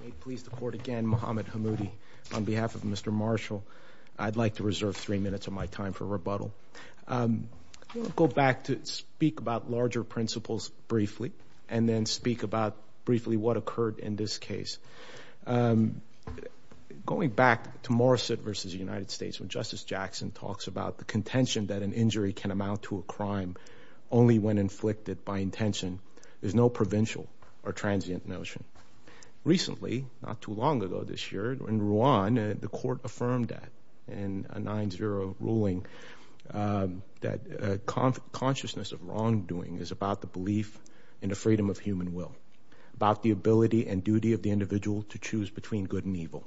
May it please the Court again, Mohamed Hammoudi. On behalf of Mr. Marshall, I'd like to reserve three minutes of my time for rebuttal. I'm going to go back to speak about larger principles briefly and then speak about briefly what occurred in this case. Going back to Morrissett v. the United States, when Justice Jackson talks about the contention that an injury can amount to a crime only when inflicted by intention, there's no provincial or transient notion. Recently, not too long ago this year in Rwanda, the Court affirmed that in a 9-0 ruling that consciousness of wrongdoing is about the belief in the freedom of human will, about the ability and duty of the individual to choose between good and evil.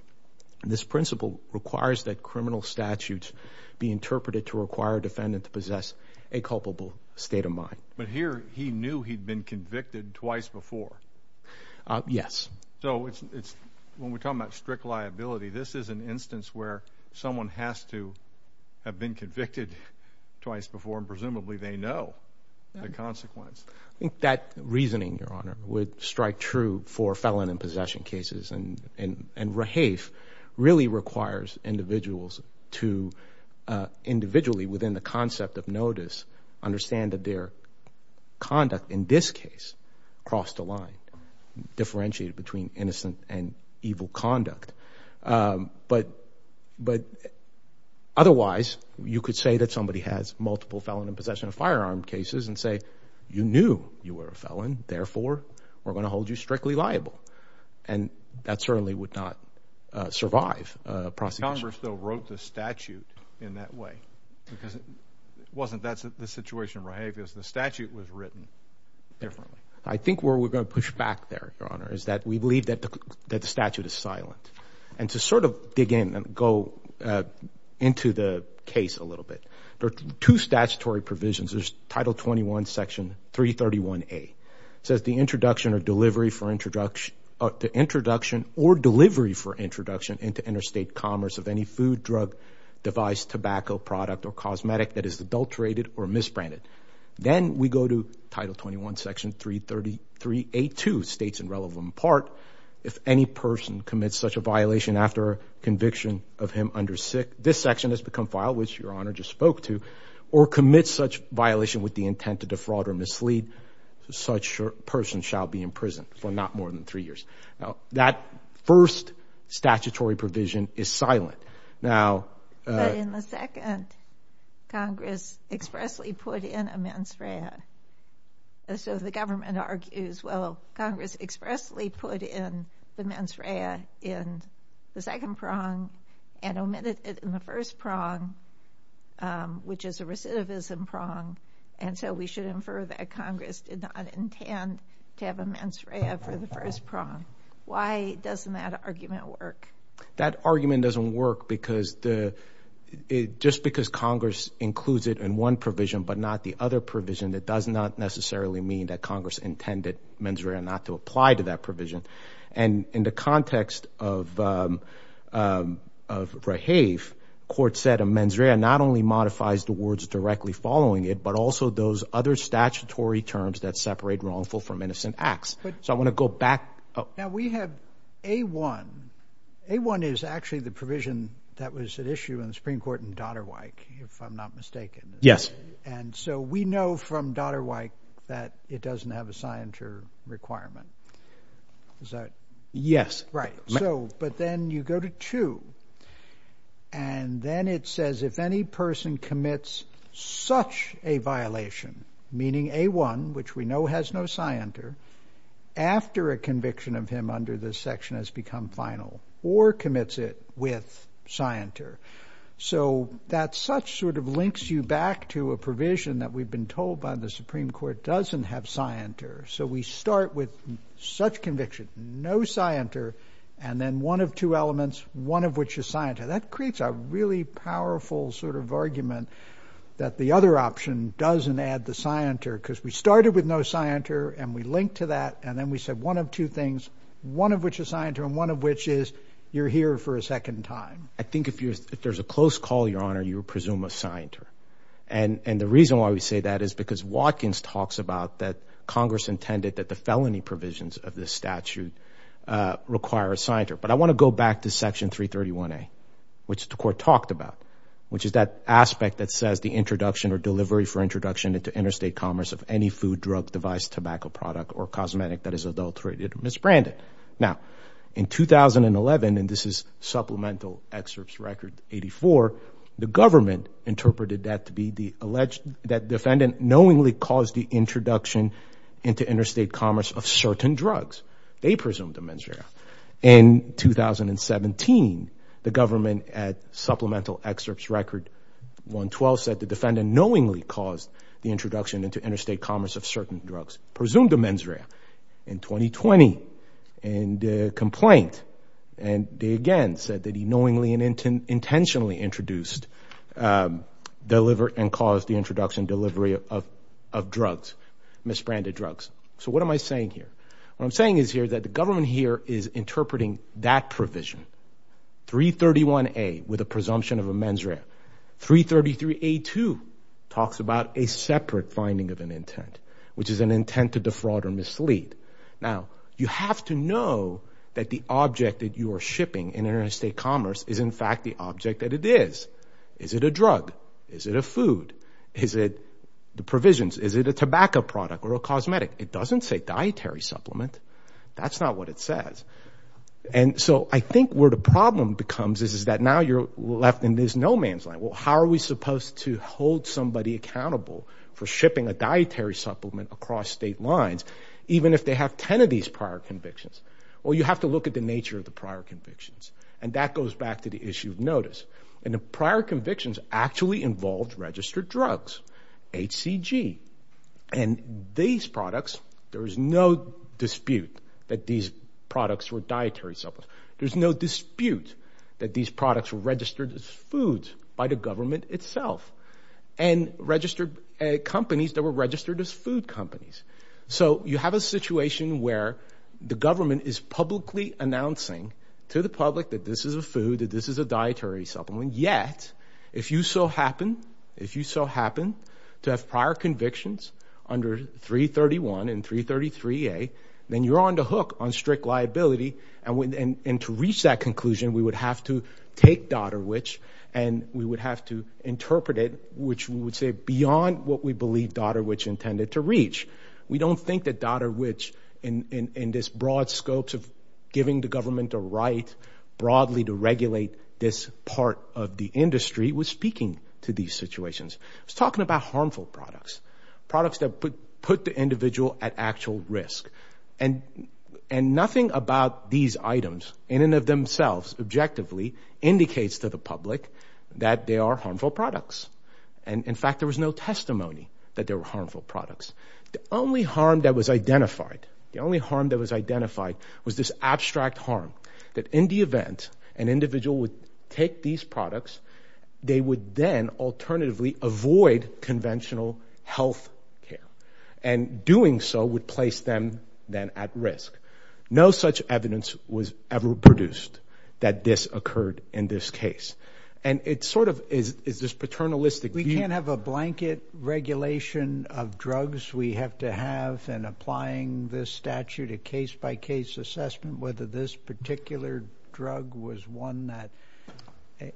This principle requires that criminal statutes be interpreted to require a defendant to possess a culpable state of mind. But here, he knew he'd been convicted twice before. Yes. So it's, when we're talking about strict liability, this is an instance where someone has to have been convicted twice before and presumably they know the consequence. I think that reasoning, Your Honor, would strike true for felon and possession cases. And rehafe really requires individuals to, individually within the concept of notice, understand that their conduct in this case crossed a line, differentiated between innocent and evil conduct. But otherwise, you could say that somebody has multiple felon and possession of firearm cases and say, you knew you were a felon, therefore we're going to hold you strictly liable. And that certainly would not survive a prosecution. Congress, though, wrote the statute in that way. Because it wasn't, that's the situation in rehafe. It was the statute was written differently. I think where we're going to push back there, Your Honor, is that we believe that the statute is silent. And to sort of dig in and go into the case a little bit, there are two statutory provisions. There's Title 21, Section 331A. It says, the introduction or delivery for introduction into interstate commerce of any food, drug, device, tobacco, product, or cosmetic that is adulterated or misbranded. Then we go to Title 21, Section 333A.2 states in relevant part, if any person commits such a violation after conviction of him under this section has become filed, which Your Honor just spoke to, or commits such violation with the intent to defraud or mislead, such person shall be imprisoned for not more than three years. That first statutory provision is silent. But in the second, Congress expressly put in a mens rea. So the government argues, well, Congress expressly put in the mens rea in the second prong and omitted it in the first prong, which is a recidivism prong. And so we should infer that Congress did not intend to have a mens rea for the first prong. Why doesn't that argument work? That argument doesn't work because the, just because Congress includes it in one provision but not the other provision, it does not necessarily mean that Congress intended mens rea not to apply to that provision. And in the context of Rahave, court said a mens rea not only other statutory terms that separate wrongful from innocent acts. So I want to go back. Now we have A1. A1 is actually the provision that was at issue in the Supreme Court in Dodderwike, if I'm not mistaken. Yes. And so we know from Dodderwike that it doesn't have a scienter requirement. Is that? Yes. Right. So, but then you go to two and then it says if any person commits such a violation meaning A1, which we know has no scienter, after a conviction of him under this section has become final or commits it with scienter. So that such sort of links you back to a provision that we've been told by the Supreme Court doesn't have scienter. So we start with such conviction, no scienter, and then one of two elements, one of which is scienter. That creates a really powerful sort of argument that the other option doesn't add the scienter because we started with no scienter and we linked to that. And then we said one of two things, one of which is scienter and one of which is you're here for a second time. I think if you, if there's a close call, Your Honor, you would presume a scienter. And, and the reason why we say that is because Watkins talks about that Congress intended that the felony provisions of this statute require a scienter. But I want to go back to section 331A, which the court talked about, which is that aspect that says the introduction or delivery for introduction into interstate commerce of any food, drug, device, tobacco product or cosmetic that is adulterated or misbranded. Now in 2011, and this is supplemental excerpts record 84, the government interpreted that to be the alleged, that defendant knowingly caused the introduction into interstate commerce of certain drugs. They presumed a mens rea. In 2017, the government at supplemental excerpts record 112 said the defendant knowingly caused the introduction into interstate commerce of certain drugs, presumed a mens rea. In 2020, in the complaint, and they again said that he knowingly and intentionally introduced, delivered and caused the introduction delivery of, of drugs, misbranded drugs. So what am I saying here? What I'm saying is here that the government here is interpreting that provision. 331A with a presumption of a mens rea. 333A2 talks about a separate finding of an intent, which is an intent to defraud or mislead. Now you have to know that the object that you are shipping in interstate commerce is in fact the object that it is. Is it a drug? Is it a food? Is it the provisions? Is it a tobacco product or a cosmetic? It doesn't say dietary supplement. That's not what it says. And so I think where the problem becomes is that now you're left in this no man's land. Well, how are we supposed to hold somebody accountable for shipping a dietary supplement across state lines, even if they have 10 of these prior convictions? Well, you have to look at the nature of the prior convictions. And that goes back to the issue of notice. And the prior convictions actually involved registered drugs, HCG. And these products, there is no dispute that these products were dietary supplements. There's no dispute that these products were registered as foods by the government itself. And companies that were registered as food companies. So you have a situation where the government is publicly announcing to the public that this is a food, that this is a dietary supplement. Yet, if you so happen, if you so happen to have prior convictions under 331 and 333A, then you're on the hook on strict liability. And to reach that conclusion, we would have to take Doderwich and we would have to interpret it, which would say beyond what we believe Doderwich intended to reach. We don't think that Doderwich in this broad scopes of giving the government a right broadly to regulate this part of the industry was speaking to these situations. It was talking about harmful products. Products that put the individual at actual risk. And nothing about these items in and of themselves objectively indicates to the public that they are harmful products. And in fact, there was no testimony that they were harmful products. The only harm that was identified, the only harm that was identified was this abstract harm. That in the event an individual would take these products, they would then alternatively avoid conventional health care. And doing so would place them then at risk. No such evidence was ever produced that this occurred in this case. And it sort of is this paternalistic view. We can't have a blanket regulation of drugs. We have to have in applying this statute a case by case assessment whether this particular drug was one that,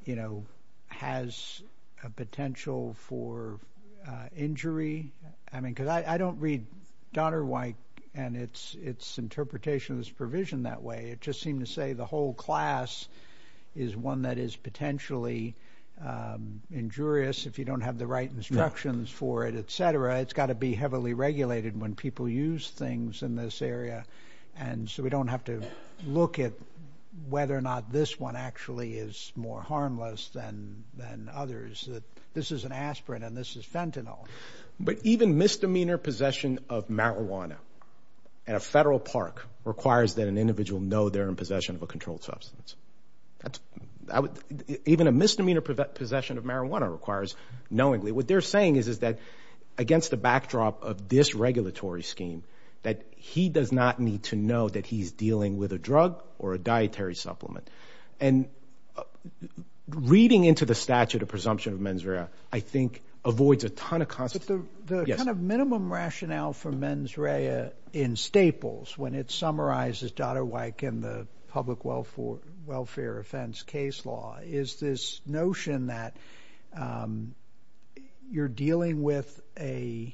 you know, has a potential for injury. I mean, because I don't read Doderwich and its interpretation of this provision that way. It just seemed to say the whole class is one that is potentially injurious if you don't have the right instructions for it, etc. It's got to be heavily regulated when people use things in this area. And so we don't have to look at whether or not this one actually is more harmless than others. This is an aspirin and this is fentanyl. But even misdemeanor possession of marijuana at a federal park requires that an individual know they're in possession of a controlled substance. Even a misdemeanor possession of marijuana knowingly. What they're saying is that against the backdrop of this regulatory scheme, that he does not need to know that he's dealing with a drug or a dietary supplement. And reading into the statute a presumption of mens rea, I think, avoids a ton of constant – But the kind of minimum rationale for mens rea in Staples when it summarizes Doderwich and the public welfare offense case law is this notion that you're dealing with a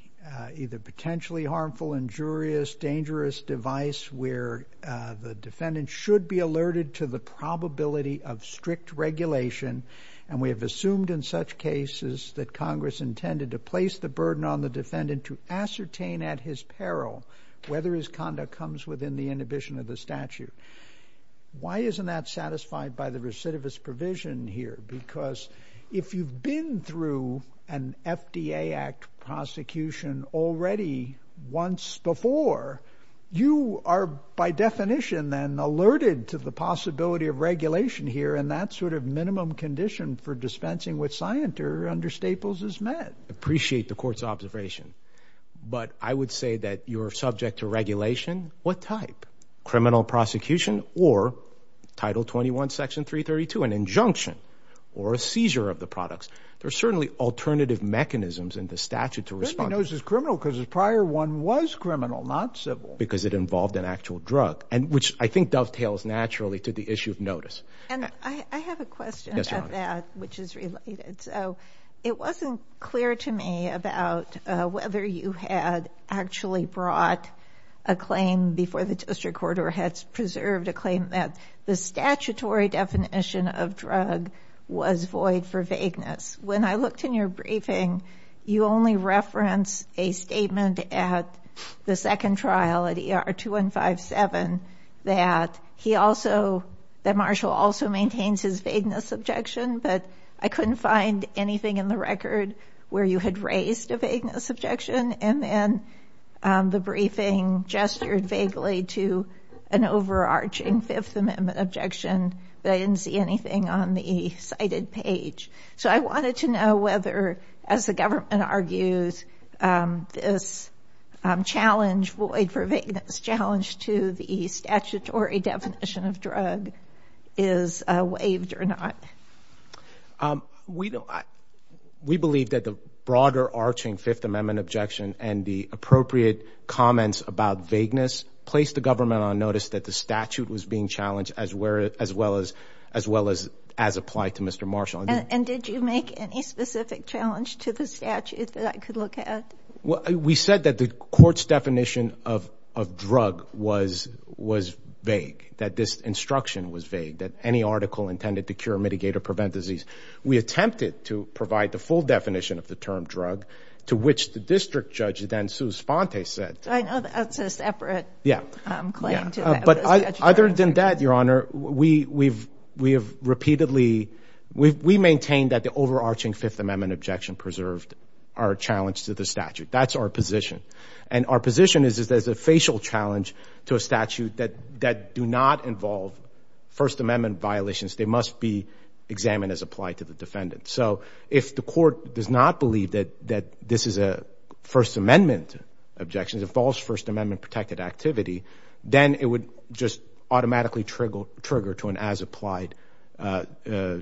either potentially harmful, injurious, dangerous device where the defendant should be alerted to the probability of strict regulation. And we have assumed in such cases that Congress intended to place the burden on the defendant to ascertain at his peril whether his conduct comes within the inhibition of the statute. Why isn't that satisfied by the recidivist provision here? Because if you've been through an FDA act prosecution already once before, you are by definition then alerted to the possibility of regulation here and that sort of minimum condition for dispensing with scienter under Staples is met. I appreciate the court's observation, but I would say that you're subject to regulation. What type? Criminal prosecution or Title 21, Section 332, an injunction or a seizure of the products. There are certainly alternative mechanisms in the statute to respond. He knows he's criminal because his prior one was criminal, not civil. Because it involved an actual drug, which I think dovetails naturally to the issue of notice. And I have a question about that, which is related. So it wasn't clear to me about whether you had actually brought a claim before the district court or had preserved a claim that the statutory definition of drug was void for vagueness. When I looked in your briefing, you only reference a statement at the second trial at ER 2157 that he also, that Marshall also maintains his vagueness objection, but I couldn't find anything in the record where you had raised a vagueness objection. And then the briefing gestured vaguely to an overarching Fifth Amendment objection, but I didn't see anything on the cited page. So I wanted to know whether, as the government argues, this challenge, void for vagueness challenge to the statutory definition of drug is waived or not. We don't, we believe that the broader arching Fifth Amendment objection and the appropriate comments about vagueness placed the government on notice that the statute was being challenged as well as, as well as, as applied to Mr. Marshall. And did you make any specific challenge to the statute that I could look at? We said that the court's definition of, of drug was, was vague, that this instruction was vague, that any article intended to cure, mitigate, or prevent disease. We attempted to provide the full definition of the term drug to which the district judge then, Sue Sponte said. I know that's a separate claim to that. Other than that, Your Honor, we, we've, we have repeatedly, we've, we maintain that the overarching Fifth Amendment objection preserved our challenge to the statute. That's our position. And our position is, is there's a facial challenge to a statute that, that do not involve First Amendment violations. They must be examined as applied to the defendant. So if the court does not believe that, that this is a First Amendment objection, a false First Amendment protected activity, then it would just automatically trigger, trigger to an as applied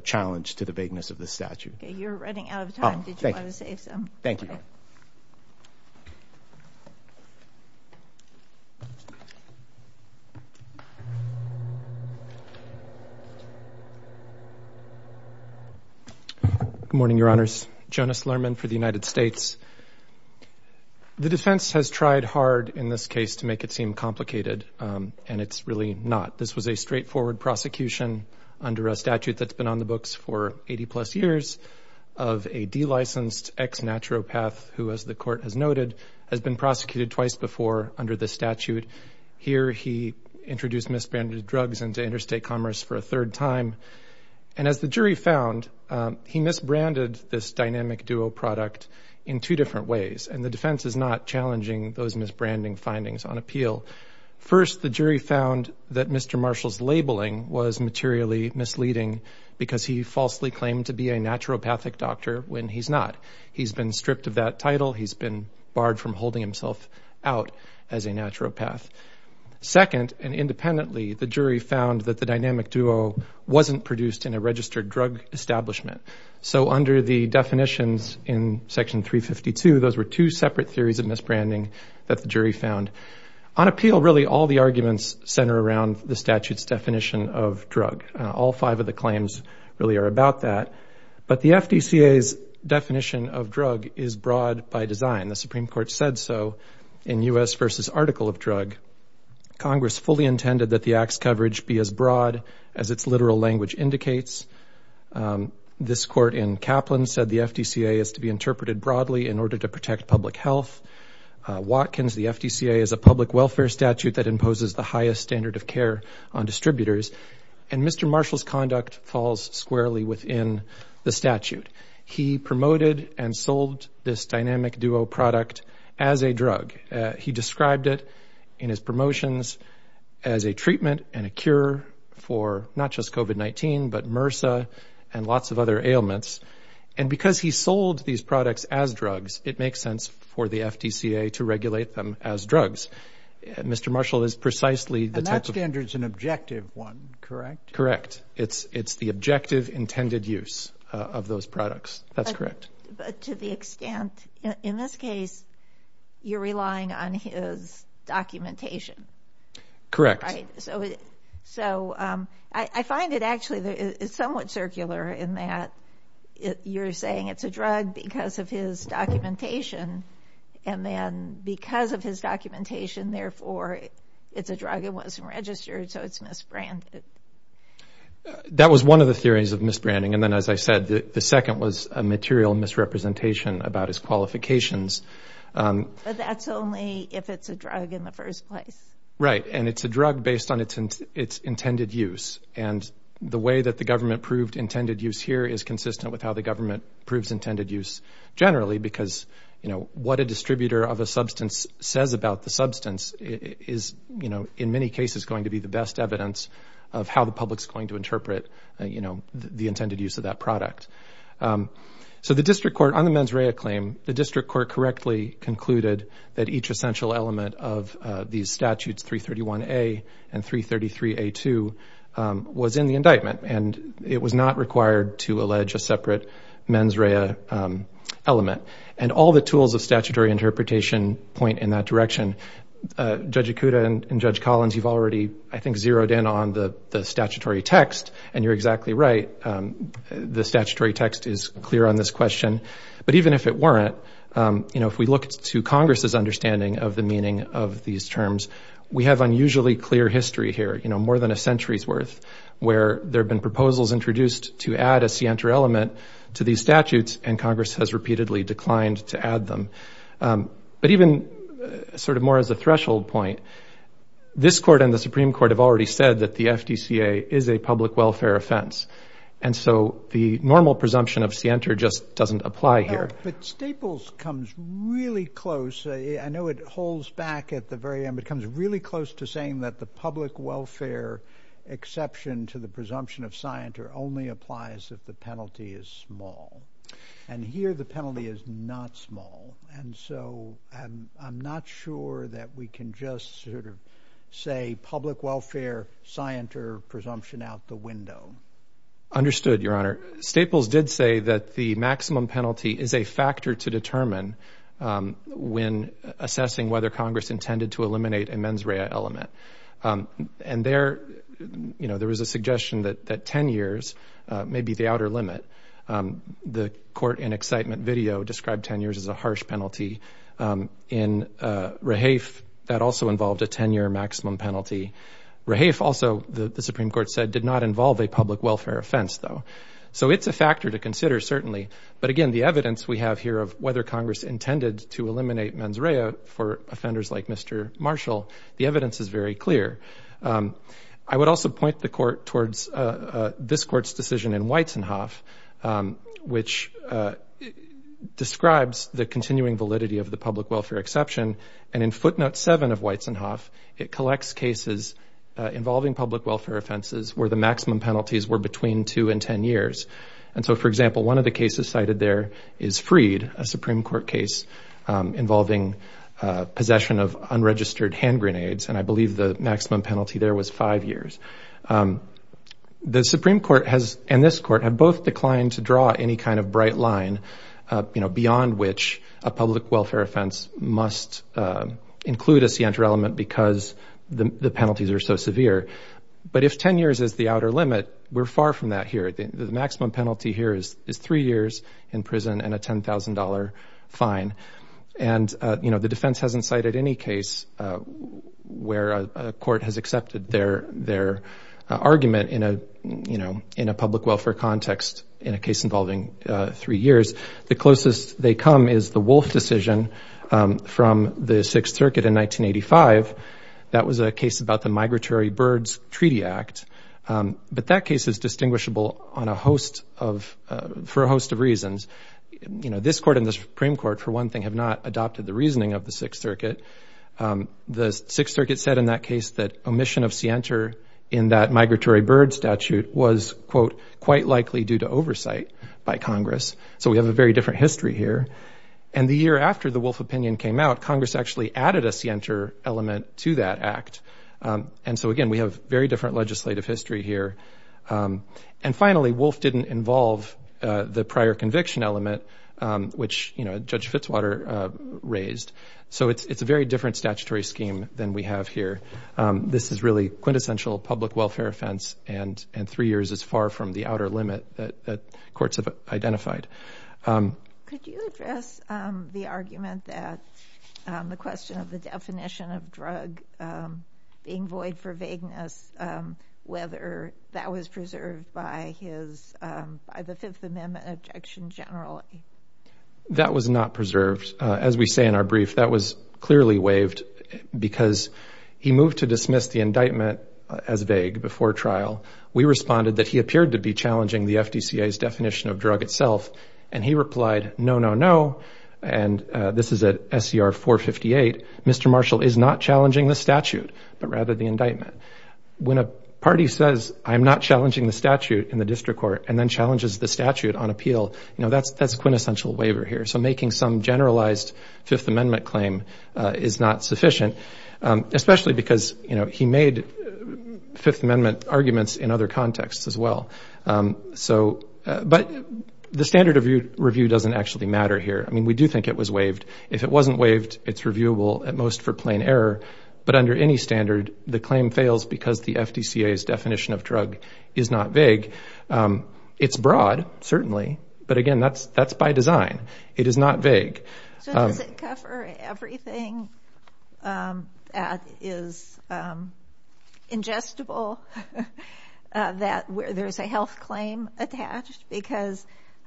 challenge to the vagueness of the statute. Okay, you're running out of time. Did you want to save some? Thank you. Good morning, Your Honors. Jonas Lerman for the United States. The defense has tried hard in this case to make it seem complicated. And it's really not. This was a straightforward prosecution under a statute that's been on the books for 80 plus years of a de-licensed ex-naturopath who, as the court has noted, has been prosecuted twice before under the statute. Here, he introduced misbranded drugs into interstate commerce for a third time. And as the jury found, he misbranded this Dynamic Duo product in two different ways. And the defense is not challenging those misbranding findings on appeal. First, the jury found that Mr. Marshall's labeling was materially misleading because he falsely claimed to be a naturopathic doctor when he's not. He's been stripped of that title. He's been barred from holding himself out as a naturopath. Second, and independently, the jury found that the Dynamic Duo wasn't produced in a two separate theories of misbranding that the jury found. On appeal, really, all the arguments center around the statute's definition of drug. All five of the claims really are about that. But the FDCA's definition of drug is broad by design. The Supreme Court said so in U.S. v. Article of Drug. Congress fully intended that the act's coverage be as broad as its literal language indicates. This court in Kaplan said the FDCA is to be interpreted broadly in order to protect public health. Watkins, the FDCA, is a public welfare statute that imposes the highest standard of care on distributors. And Mr. Marshall's conduct falls squarely within the statute. He promoted and sold this Dynamic Duo product as a drug. He described it in his promotions as a treatment and a cure for not just COVID-19, but MRSA and lots of other ailments. And because he sold these products as drugs, it makes sense for the FDCA to regulate them as drugs. Mr. Marshall is precisely the type of... And that standard's an objective one, correct? Correct. It's the objective intended use of those products. That's correct. But to the extent, in this case, you're relying on his documentation. Correct. Right. So I find it actually somewhat circular in that you're saying it's a drug because of his documentation. And then because of his documentation, therefore, it's a drug that wasn't registered, so it's misbranded. That was one of the theories of misbranding. And then, as I said, the second was a material misrepresentation about his qualifications. That's only if it's a drug in the first place. Right. And it's a drug based on its intended use. And the way that the government proved intended use here is consistent with how the government proves intended use generally, because what a distributor of a substance says about the substance is, in many cases, going to be the best evidence of how the public's going to interpret the intended use of that product. So the district court, on the mens rea claim, the district court correctly concluded that each essential element of these statutes, 331A and 333A2, was in the indictment. And it was not required to allege a separate mens rea element. And all the tools of statutory interpretation point in that direction. Judge Ikuda and Judge Collins, you've already, I think, zeroed in on the statutory text. And you're exactly right. The statutory text is clear on this question. But even if it weren't, you know, if we look to Congress's understanding of the meaning of these terms, we have unusually clear history here, you know, more than a century's worth, where there have been proposals introduced to add a scienter element to these statutes and Congress has repeatedly declined to add them. But even sort of more as a threshold point, this court and the Supreme Court have already said that the FDCA is a public welfare offense. And so the normal presumption of scienter just doesn't apply here. But Staples comes really close. I know it holds back at the very end, but comes really close to saying that the public welfare exception to the presumption of scienter only applies if the penalty is small. And here the penalty is not small. And so I'm not sure that we can just sort of say public welfare scienter presumption out the window. Understood, Your Honor. Staples did say that the maximum penalty is a factor to determine when assessing whether Congress intended to eliminate a mens rea element. And there, you know, there was a suggestion that 10 years may be the outer limit. The court in excitement video described 10 years as a harsh penalty. In Rehaef, that also involved a 10-year maximum penalty. Rehaef also, the Supreme Court said, did not involve a public welfare offense, though. So it's a factor to consider, certainly. But again, the evidence we have here of whether Congress intended to eliminate mens rea for offenders like Mr. Marshall, the evidence is very clear. I would also point the court towards this court's decision in Weizenhoff, which describes the continuing validity of the public welfare exception. And in footnote 7 of Weizenhoff, it collects cases involving public welfare offenses where the maximum penalties were between 2 and 10 years. And so, for example, one of the cases cited there is Freed, a Supreme Court case involving possession of unregistered hand grenades. And I believe the maximum penalty there was 5 years. The Supreme Court has, and this court, have both declined to draw any kind of bright line, beyond which a public welfare offense must include a scienter element because the penalties are so severe. But if 10 years is the outer limit, we're far from that here. The maximum penalty here is 3 years in prison and a $10,000 fine. And the defense hasn't cited any case where a court has accepted their argument in a public welfare context in a case involving 3 years. The closest they come is the Wolf decision from the Sixth Circuit in 1985. That was a case about the Migratory Birds Treaty Act. But that case is distinguishable for a host of reasons. This court and the Supreme Court, for one thing, have not adopted the reasoning of the Sixth Circuit. The Sixth Circuit said in that case that omission of scienter in that migratory bird statute was, quote, quite likely due to oversight by Congress. So we have a very different history here. And the year after the Wolf opinion came out, Congress actually added a scienter element to that act. And so, again, we have very different legislative history here. And finally, Wolf didn't involve the prior conviction element, which Judge Fitzwater raised. So it's a very different statutory scheme than we have here. This is really quintessential public welfare offense. And 3 years is far from the outer limit that courts have identified. Could you address the argument that the question of the definition of drug being void for vagueness, whether that was preserved by the Fifth Amendment objection generally? That was not preserved. As we say in our brief, that was clearly waived, because he moved to dismiss the indictment as vague before trial. We responded that he appeared to be challenging the FDCA's definition of drug itself. And he replied, no, no, no. And this is at SCR 458. Mr. Marshall is not challenging the statute, but rather the indictment. When a party says, I'm not challenging the statute in the district court, and then challenges the statute on appeal, that's a quintessential waiver here. So making some generalized Fifth Amendment claim is not sufficient, especially because he made Fifth Amendment arguments in other contexts as well. But the standard of review doesn't actually matter here. I mean, we do think it was waived. If it wasn't waived, it's reviewable at most for plain error. But under any standard, the claim fails because the FDCA's definition of drug is not vague. It's broad, certainly. But again, that's by design. It is not vague. So does it cover everything that is ingestible, that where there's a health claim attached? Because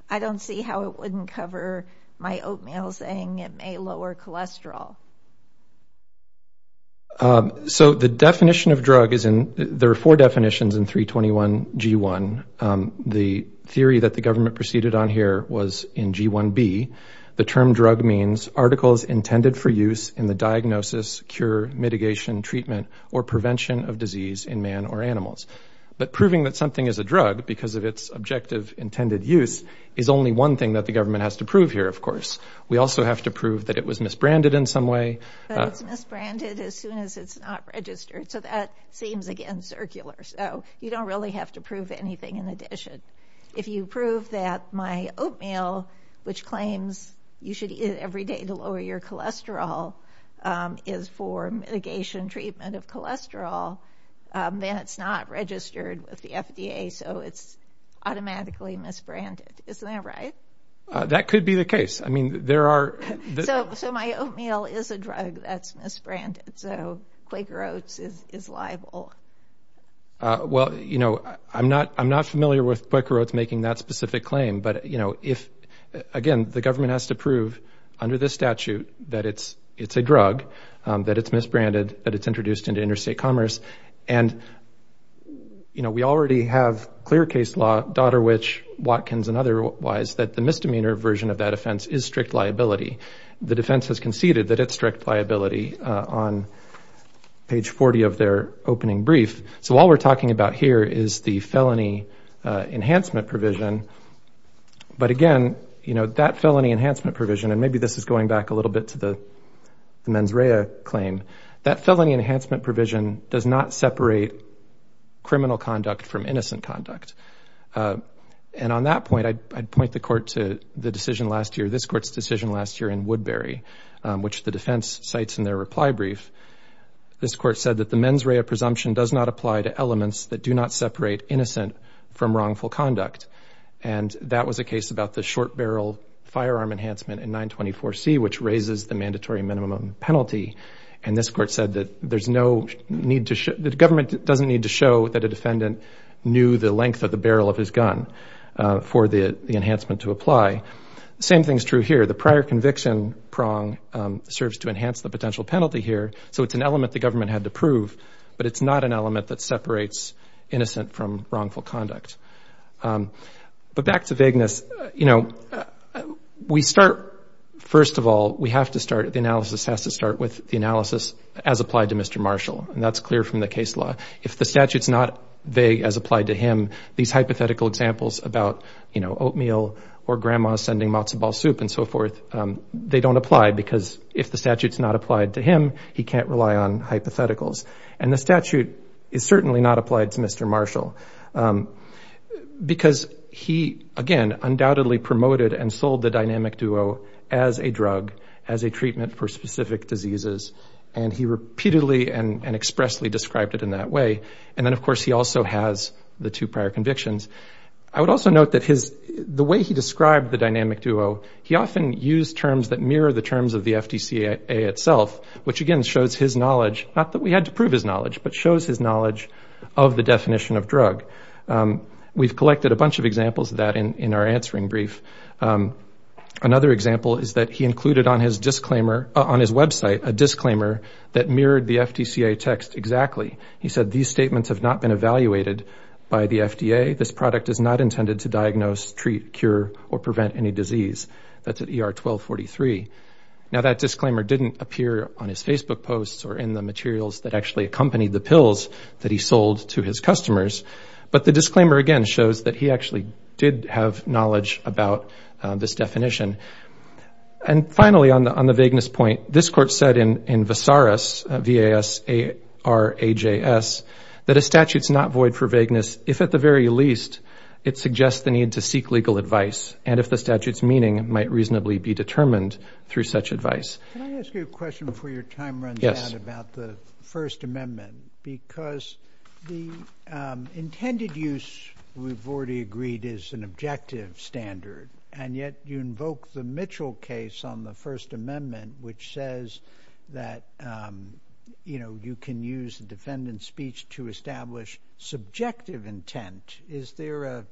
I don't see how it wouldn't cover my oatmeal saying it may lower cholesterol. So the definition of drug is in, there are four definitions in 321 G1. The theory that the government proceeded on here was in G1B. The term drug means articles intended for use in the diagnosis, cure, mitigation, treatment, or prevention of disease in man or animals. But proving that something is a drug because of its objective intended use is only one thing that the government has to prove here, of course. We also have to prove that it was misbranded in some way. But it's misbranded as soon as it's not registered. So that seems, again, circular. So you don't really have to prove anything in addition. If you prove that my oatmeal, which claims you should eat it every day to lower your cholesterol, is for mitigation treatment of cholesterol, then it's not registered with the FDA. So it's the case. So my oatmeal is a drug that's misbranded. So Quaker Oats is liable. Well, I'm not familiar with Quaker Oats making that specific claim. But again, the government has to prove under this statute that it's a drug, that it's misbranded, that it's introduced into interstate commerce. And we already have clear case law, Doderwich, Watkins, and otherwise, that the misdemeanor version of that offense is strict liability. The defense has conceded that it's strict liability on page 40 of their opening brief. So all we're talking about here is the felony enhancement provision. But again, that felony enhancement provision, and maybe this is going back a little bit to the mens rea claim, that felony enhancement provision does not separate criminal conduct from innocent conduct. And on that point, I'd point the court to the decision last year, this court's decision last year in Woodbury, which the defense cites in their reply brief. This court said that the mens rea presumption does not apply to elements that do not separate innocent from wrongful conduct. And that was a case about the short barrel firearm enhancement in 924C, which raises the mandatory minimum penalty. And this court said that there's no need to show, the government doesn't need to show that a defendant knew the length of the barrel of his gun for the enhancement to apply. The same thing's true here. The prior conviction prong serves to enhance the potential penalty here. So it's an element the government had to prove, but it's not an element that separates innocent from wrongful conduct. But back to vagueness, you know, we start, first of all, we have to start, the analysis has to start with the analysis as applied to Mr. Marshall. And that's clear from the case law. If the statute's not vague as applied to him, these hypothetical examples about, you know, oatmeal or grandma sending matzo ball soup and so forth, they don't apply because if the statute's not applied to him, he can't rely on hypotheticals. And the statute is certainly not applied to Mr. Marshall because he, again, undoubtedly promoted and sold the dynamic duo as a drug, as a treatment for drug addiction. And he repeatedly and expressly described it in that way. And then, of course, he also has the two prior convictions. I would also note that his, the way he described the dynamic duo, he often used terms that mirror the terms of the FDCA itself, which, again, shows his knowledge, not that we had to prove his knowledge, but shows his knowledge of the definition of drug. We've collected a bunch of examples of that in our answering brief. Another example is that he included on his disclaimer, on his website, a disclaimer that mirrored the FDCA text exactly. He said, these statements have not been evaluated by the FDA. This product is not intended to diagnose, treat, cure, or prevent any disease. That's at ER 1243. Now, that disclaimer didn't appear on his Facebook posts or in the materials that actually accompanied the pills that he sold to his customers. But the disclaimer, again, shows that he actually did have knowledge about this definition. And finally, on the vagueness point, this court said in Vasaras, V-A-S-A-R-A-J-S, that a statute's not void for vagueness if, at the very least, it suggests the need to seek legal advice and if the statute's meaning might reasonably be determined through such advice. Can I ask you a question before your time runs out about the First Amendment? Because the intended use, we've already agreed, is an objective standard, and yet you invoke the Mitchell case on the First Amendment, which says that, you know, you can use the defendant's speech to establish subjective intent. Is there a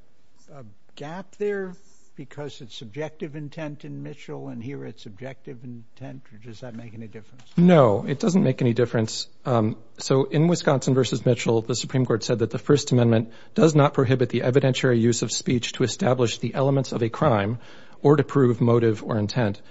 gap there because it's subjective intent in Mitchell and here it's objective intent, or does that make any difference? No, it doesn't make any difference. So, in Wisconsin v. Mitchell, the Supreme Court said that the First Amendment does not prohibit the evidentiary use of speech to establish the elements of a crime or to prove motive or intent.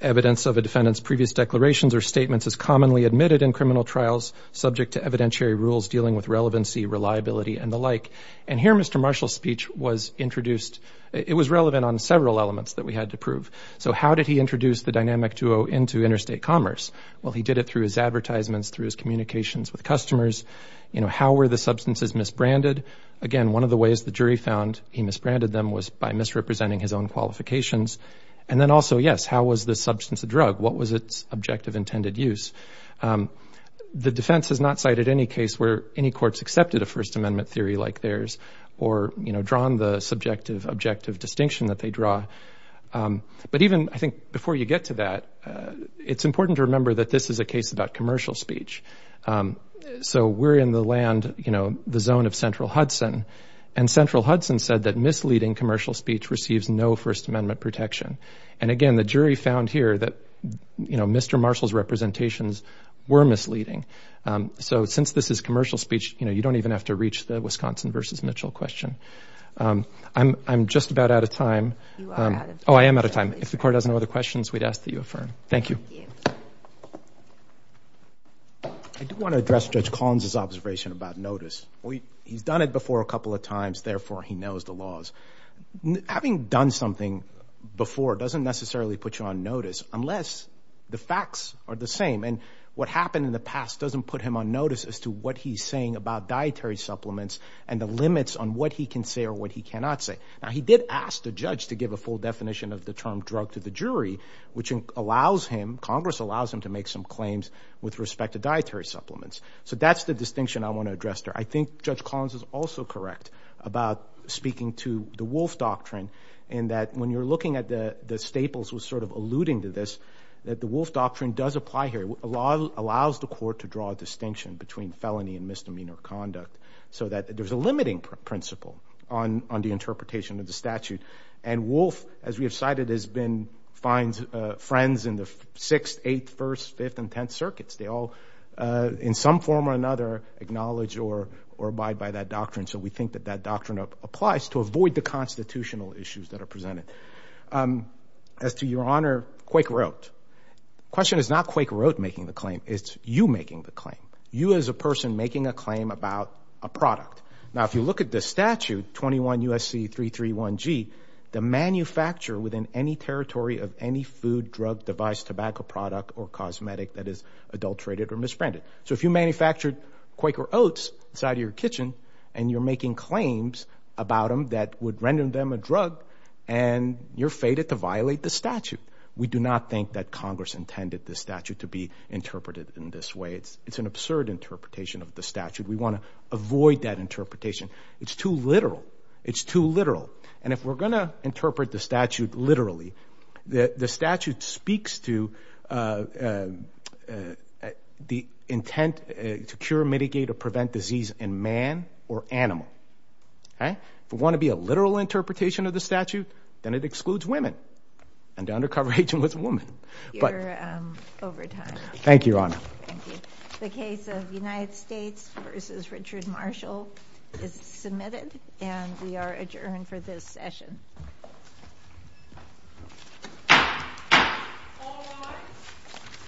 Evidence of a defendant's previous declarations or statements is commonly admitted in criminal trials subject to evidentiary rules dealing with relevancy, reliability, and the like. And here, Mr. Marshall's speech was introduced, it was relevant on several elements that we had to prove. So, how did he introduce the dynamic duo into interstate commerce? Well, he did it through his advertisements, through his communications with customers. You know, how were the substances misbranded? Again, one of the ways the jury found he misbranded them was by misrepresenting his own qualifications. And then also, yes, how was this substance a drug? What was its objective intended use? The defense has not cited any case where any courts accepted a First Amendment theory like theirs or, you know, drawn the subjective objective distinction that they draw. But even, I think, before you get to that, it's important to remember that this is a case about commercial speech. So, we're in the land, you know, the zone of Central Hudson, and Central Hudson said that misleading commercial speech receives no First Amendment protection. And again, the jury found here that, you know, Mr. Marshall's representations were misleading. So, since this is commercial speech, you know, you don't even have to reach the Wisconsin versus Mitchell question. I'm just about out of time. You are out of time. Oh, I am out of time. If the court has no other questions, we'd ask that you affirm. Thank you. I do want to address Judge Collins' observation about notice. He's done it before a couple of times, therefore, he knows the laws. Having done something before doesn't necessarily put you on notice unless the facts are the same. And what happened in the past doesn't put him on notice as to what he's saying about dietary supplements and the limits on what he can say or what he cannot say. Now, he did ask the judge to give a full definition of the term drug to the jury, which allows him, Congress allows him to make some claims with respect to dietary supplements. So, that's the distinction I want to address there. I think Judge Collins is also correct about speaking to the Wolf Doctrine in that when you're looking at the Staples was sort of alluding to this, that the Wolf Doctrine does apply here. It allows the court to draw a distinction between felony and misdemeanor conduct so that there's a limiting principle on the interpretation of the statute. And Wolf, as we have cited, has been friends in the 6th, 8th, 1st, 5th, and 10th circuits. They all in some form or another acknowledge or abide by that doctrine. So, we think that that doctrine applies to avoid the constitutional issues that are presented. As to Your Honor Quakeroat, the question is not Quakeroat making the claim, it's you making the claim. You as a person making a claim about a product. Now, if you look at this statute, 21 U.S.C. 331G, the manufacturer within any territory of any food, drug, device, tobacco product, or cosmetic that is adulterated or misbranded. So, if you manufactured Quakeroats inside of your kitchen and you're making claims about them that would render them a drug and you're fated to violate the statute, we do not think that Congress intended this statute to be interpreted in this way. It's an absurd interpretation of the statute. We want to avoid that interpretation. It's too literal. It's too literal. And if we're going to interpret the statute literally, the statute speaks to the intent to cure, mitigate, or prevent disease in man or animal. Okay? If we want to be a literal interpretation of the statute, then it excludes women and the undercover agent was a woman. You're over time. Thank you, Your Honor. The case of United States v. Richard Marshall is submitted and we are adjourned for this session.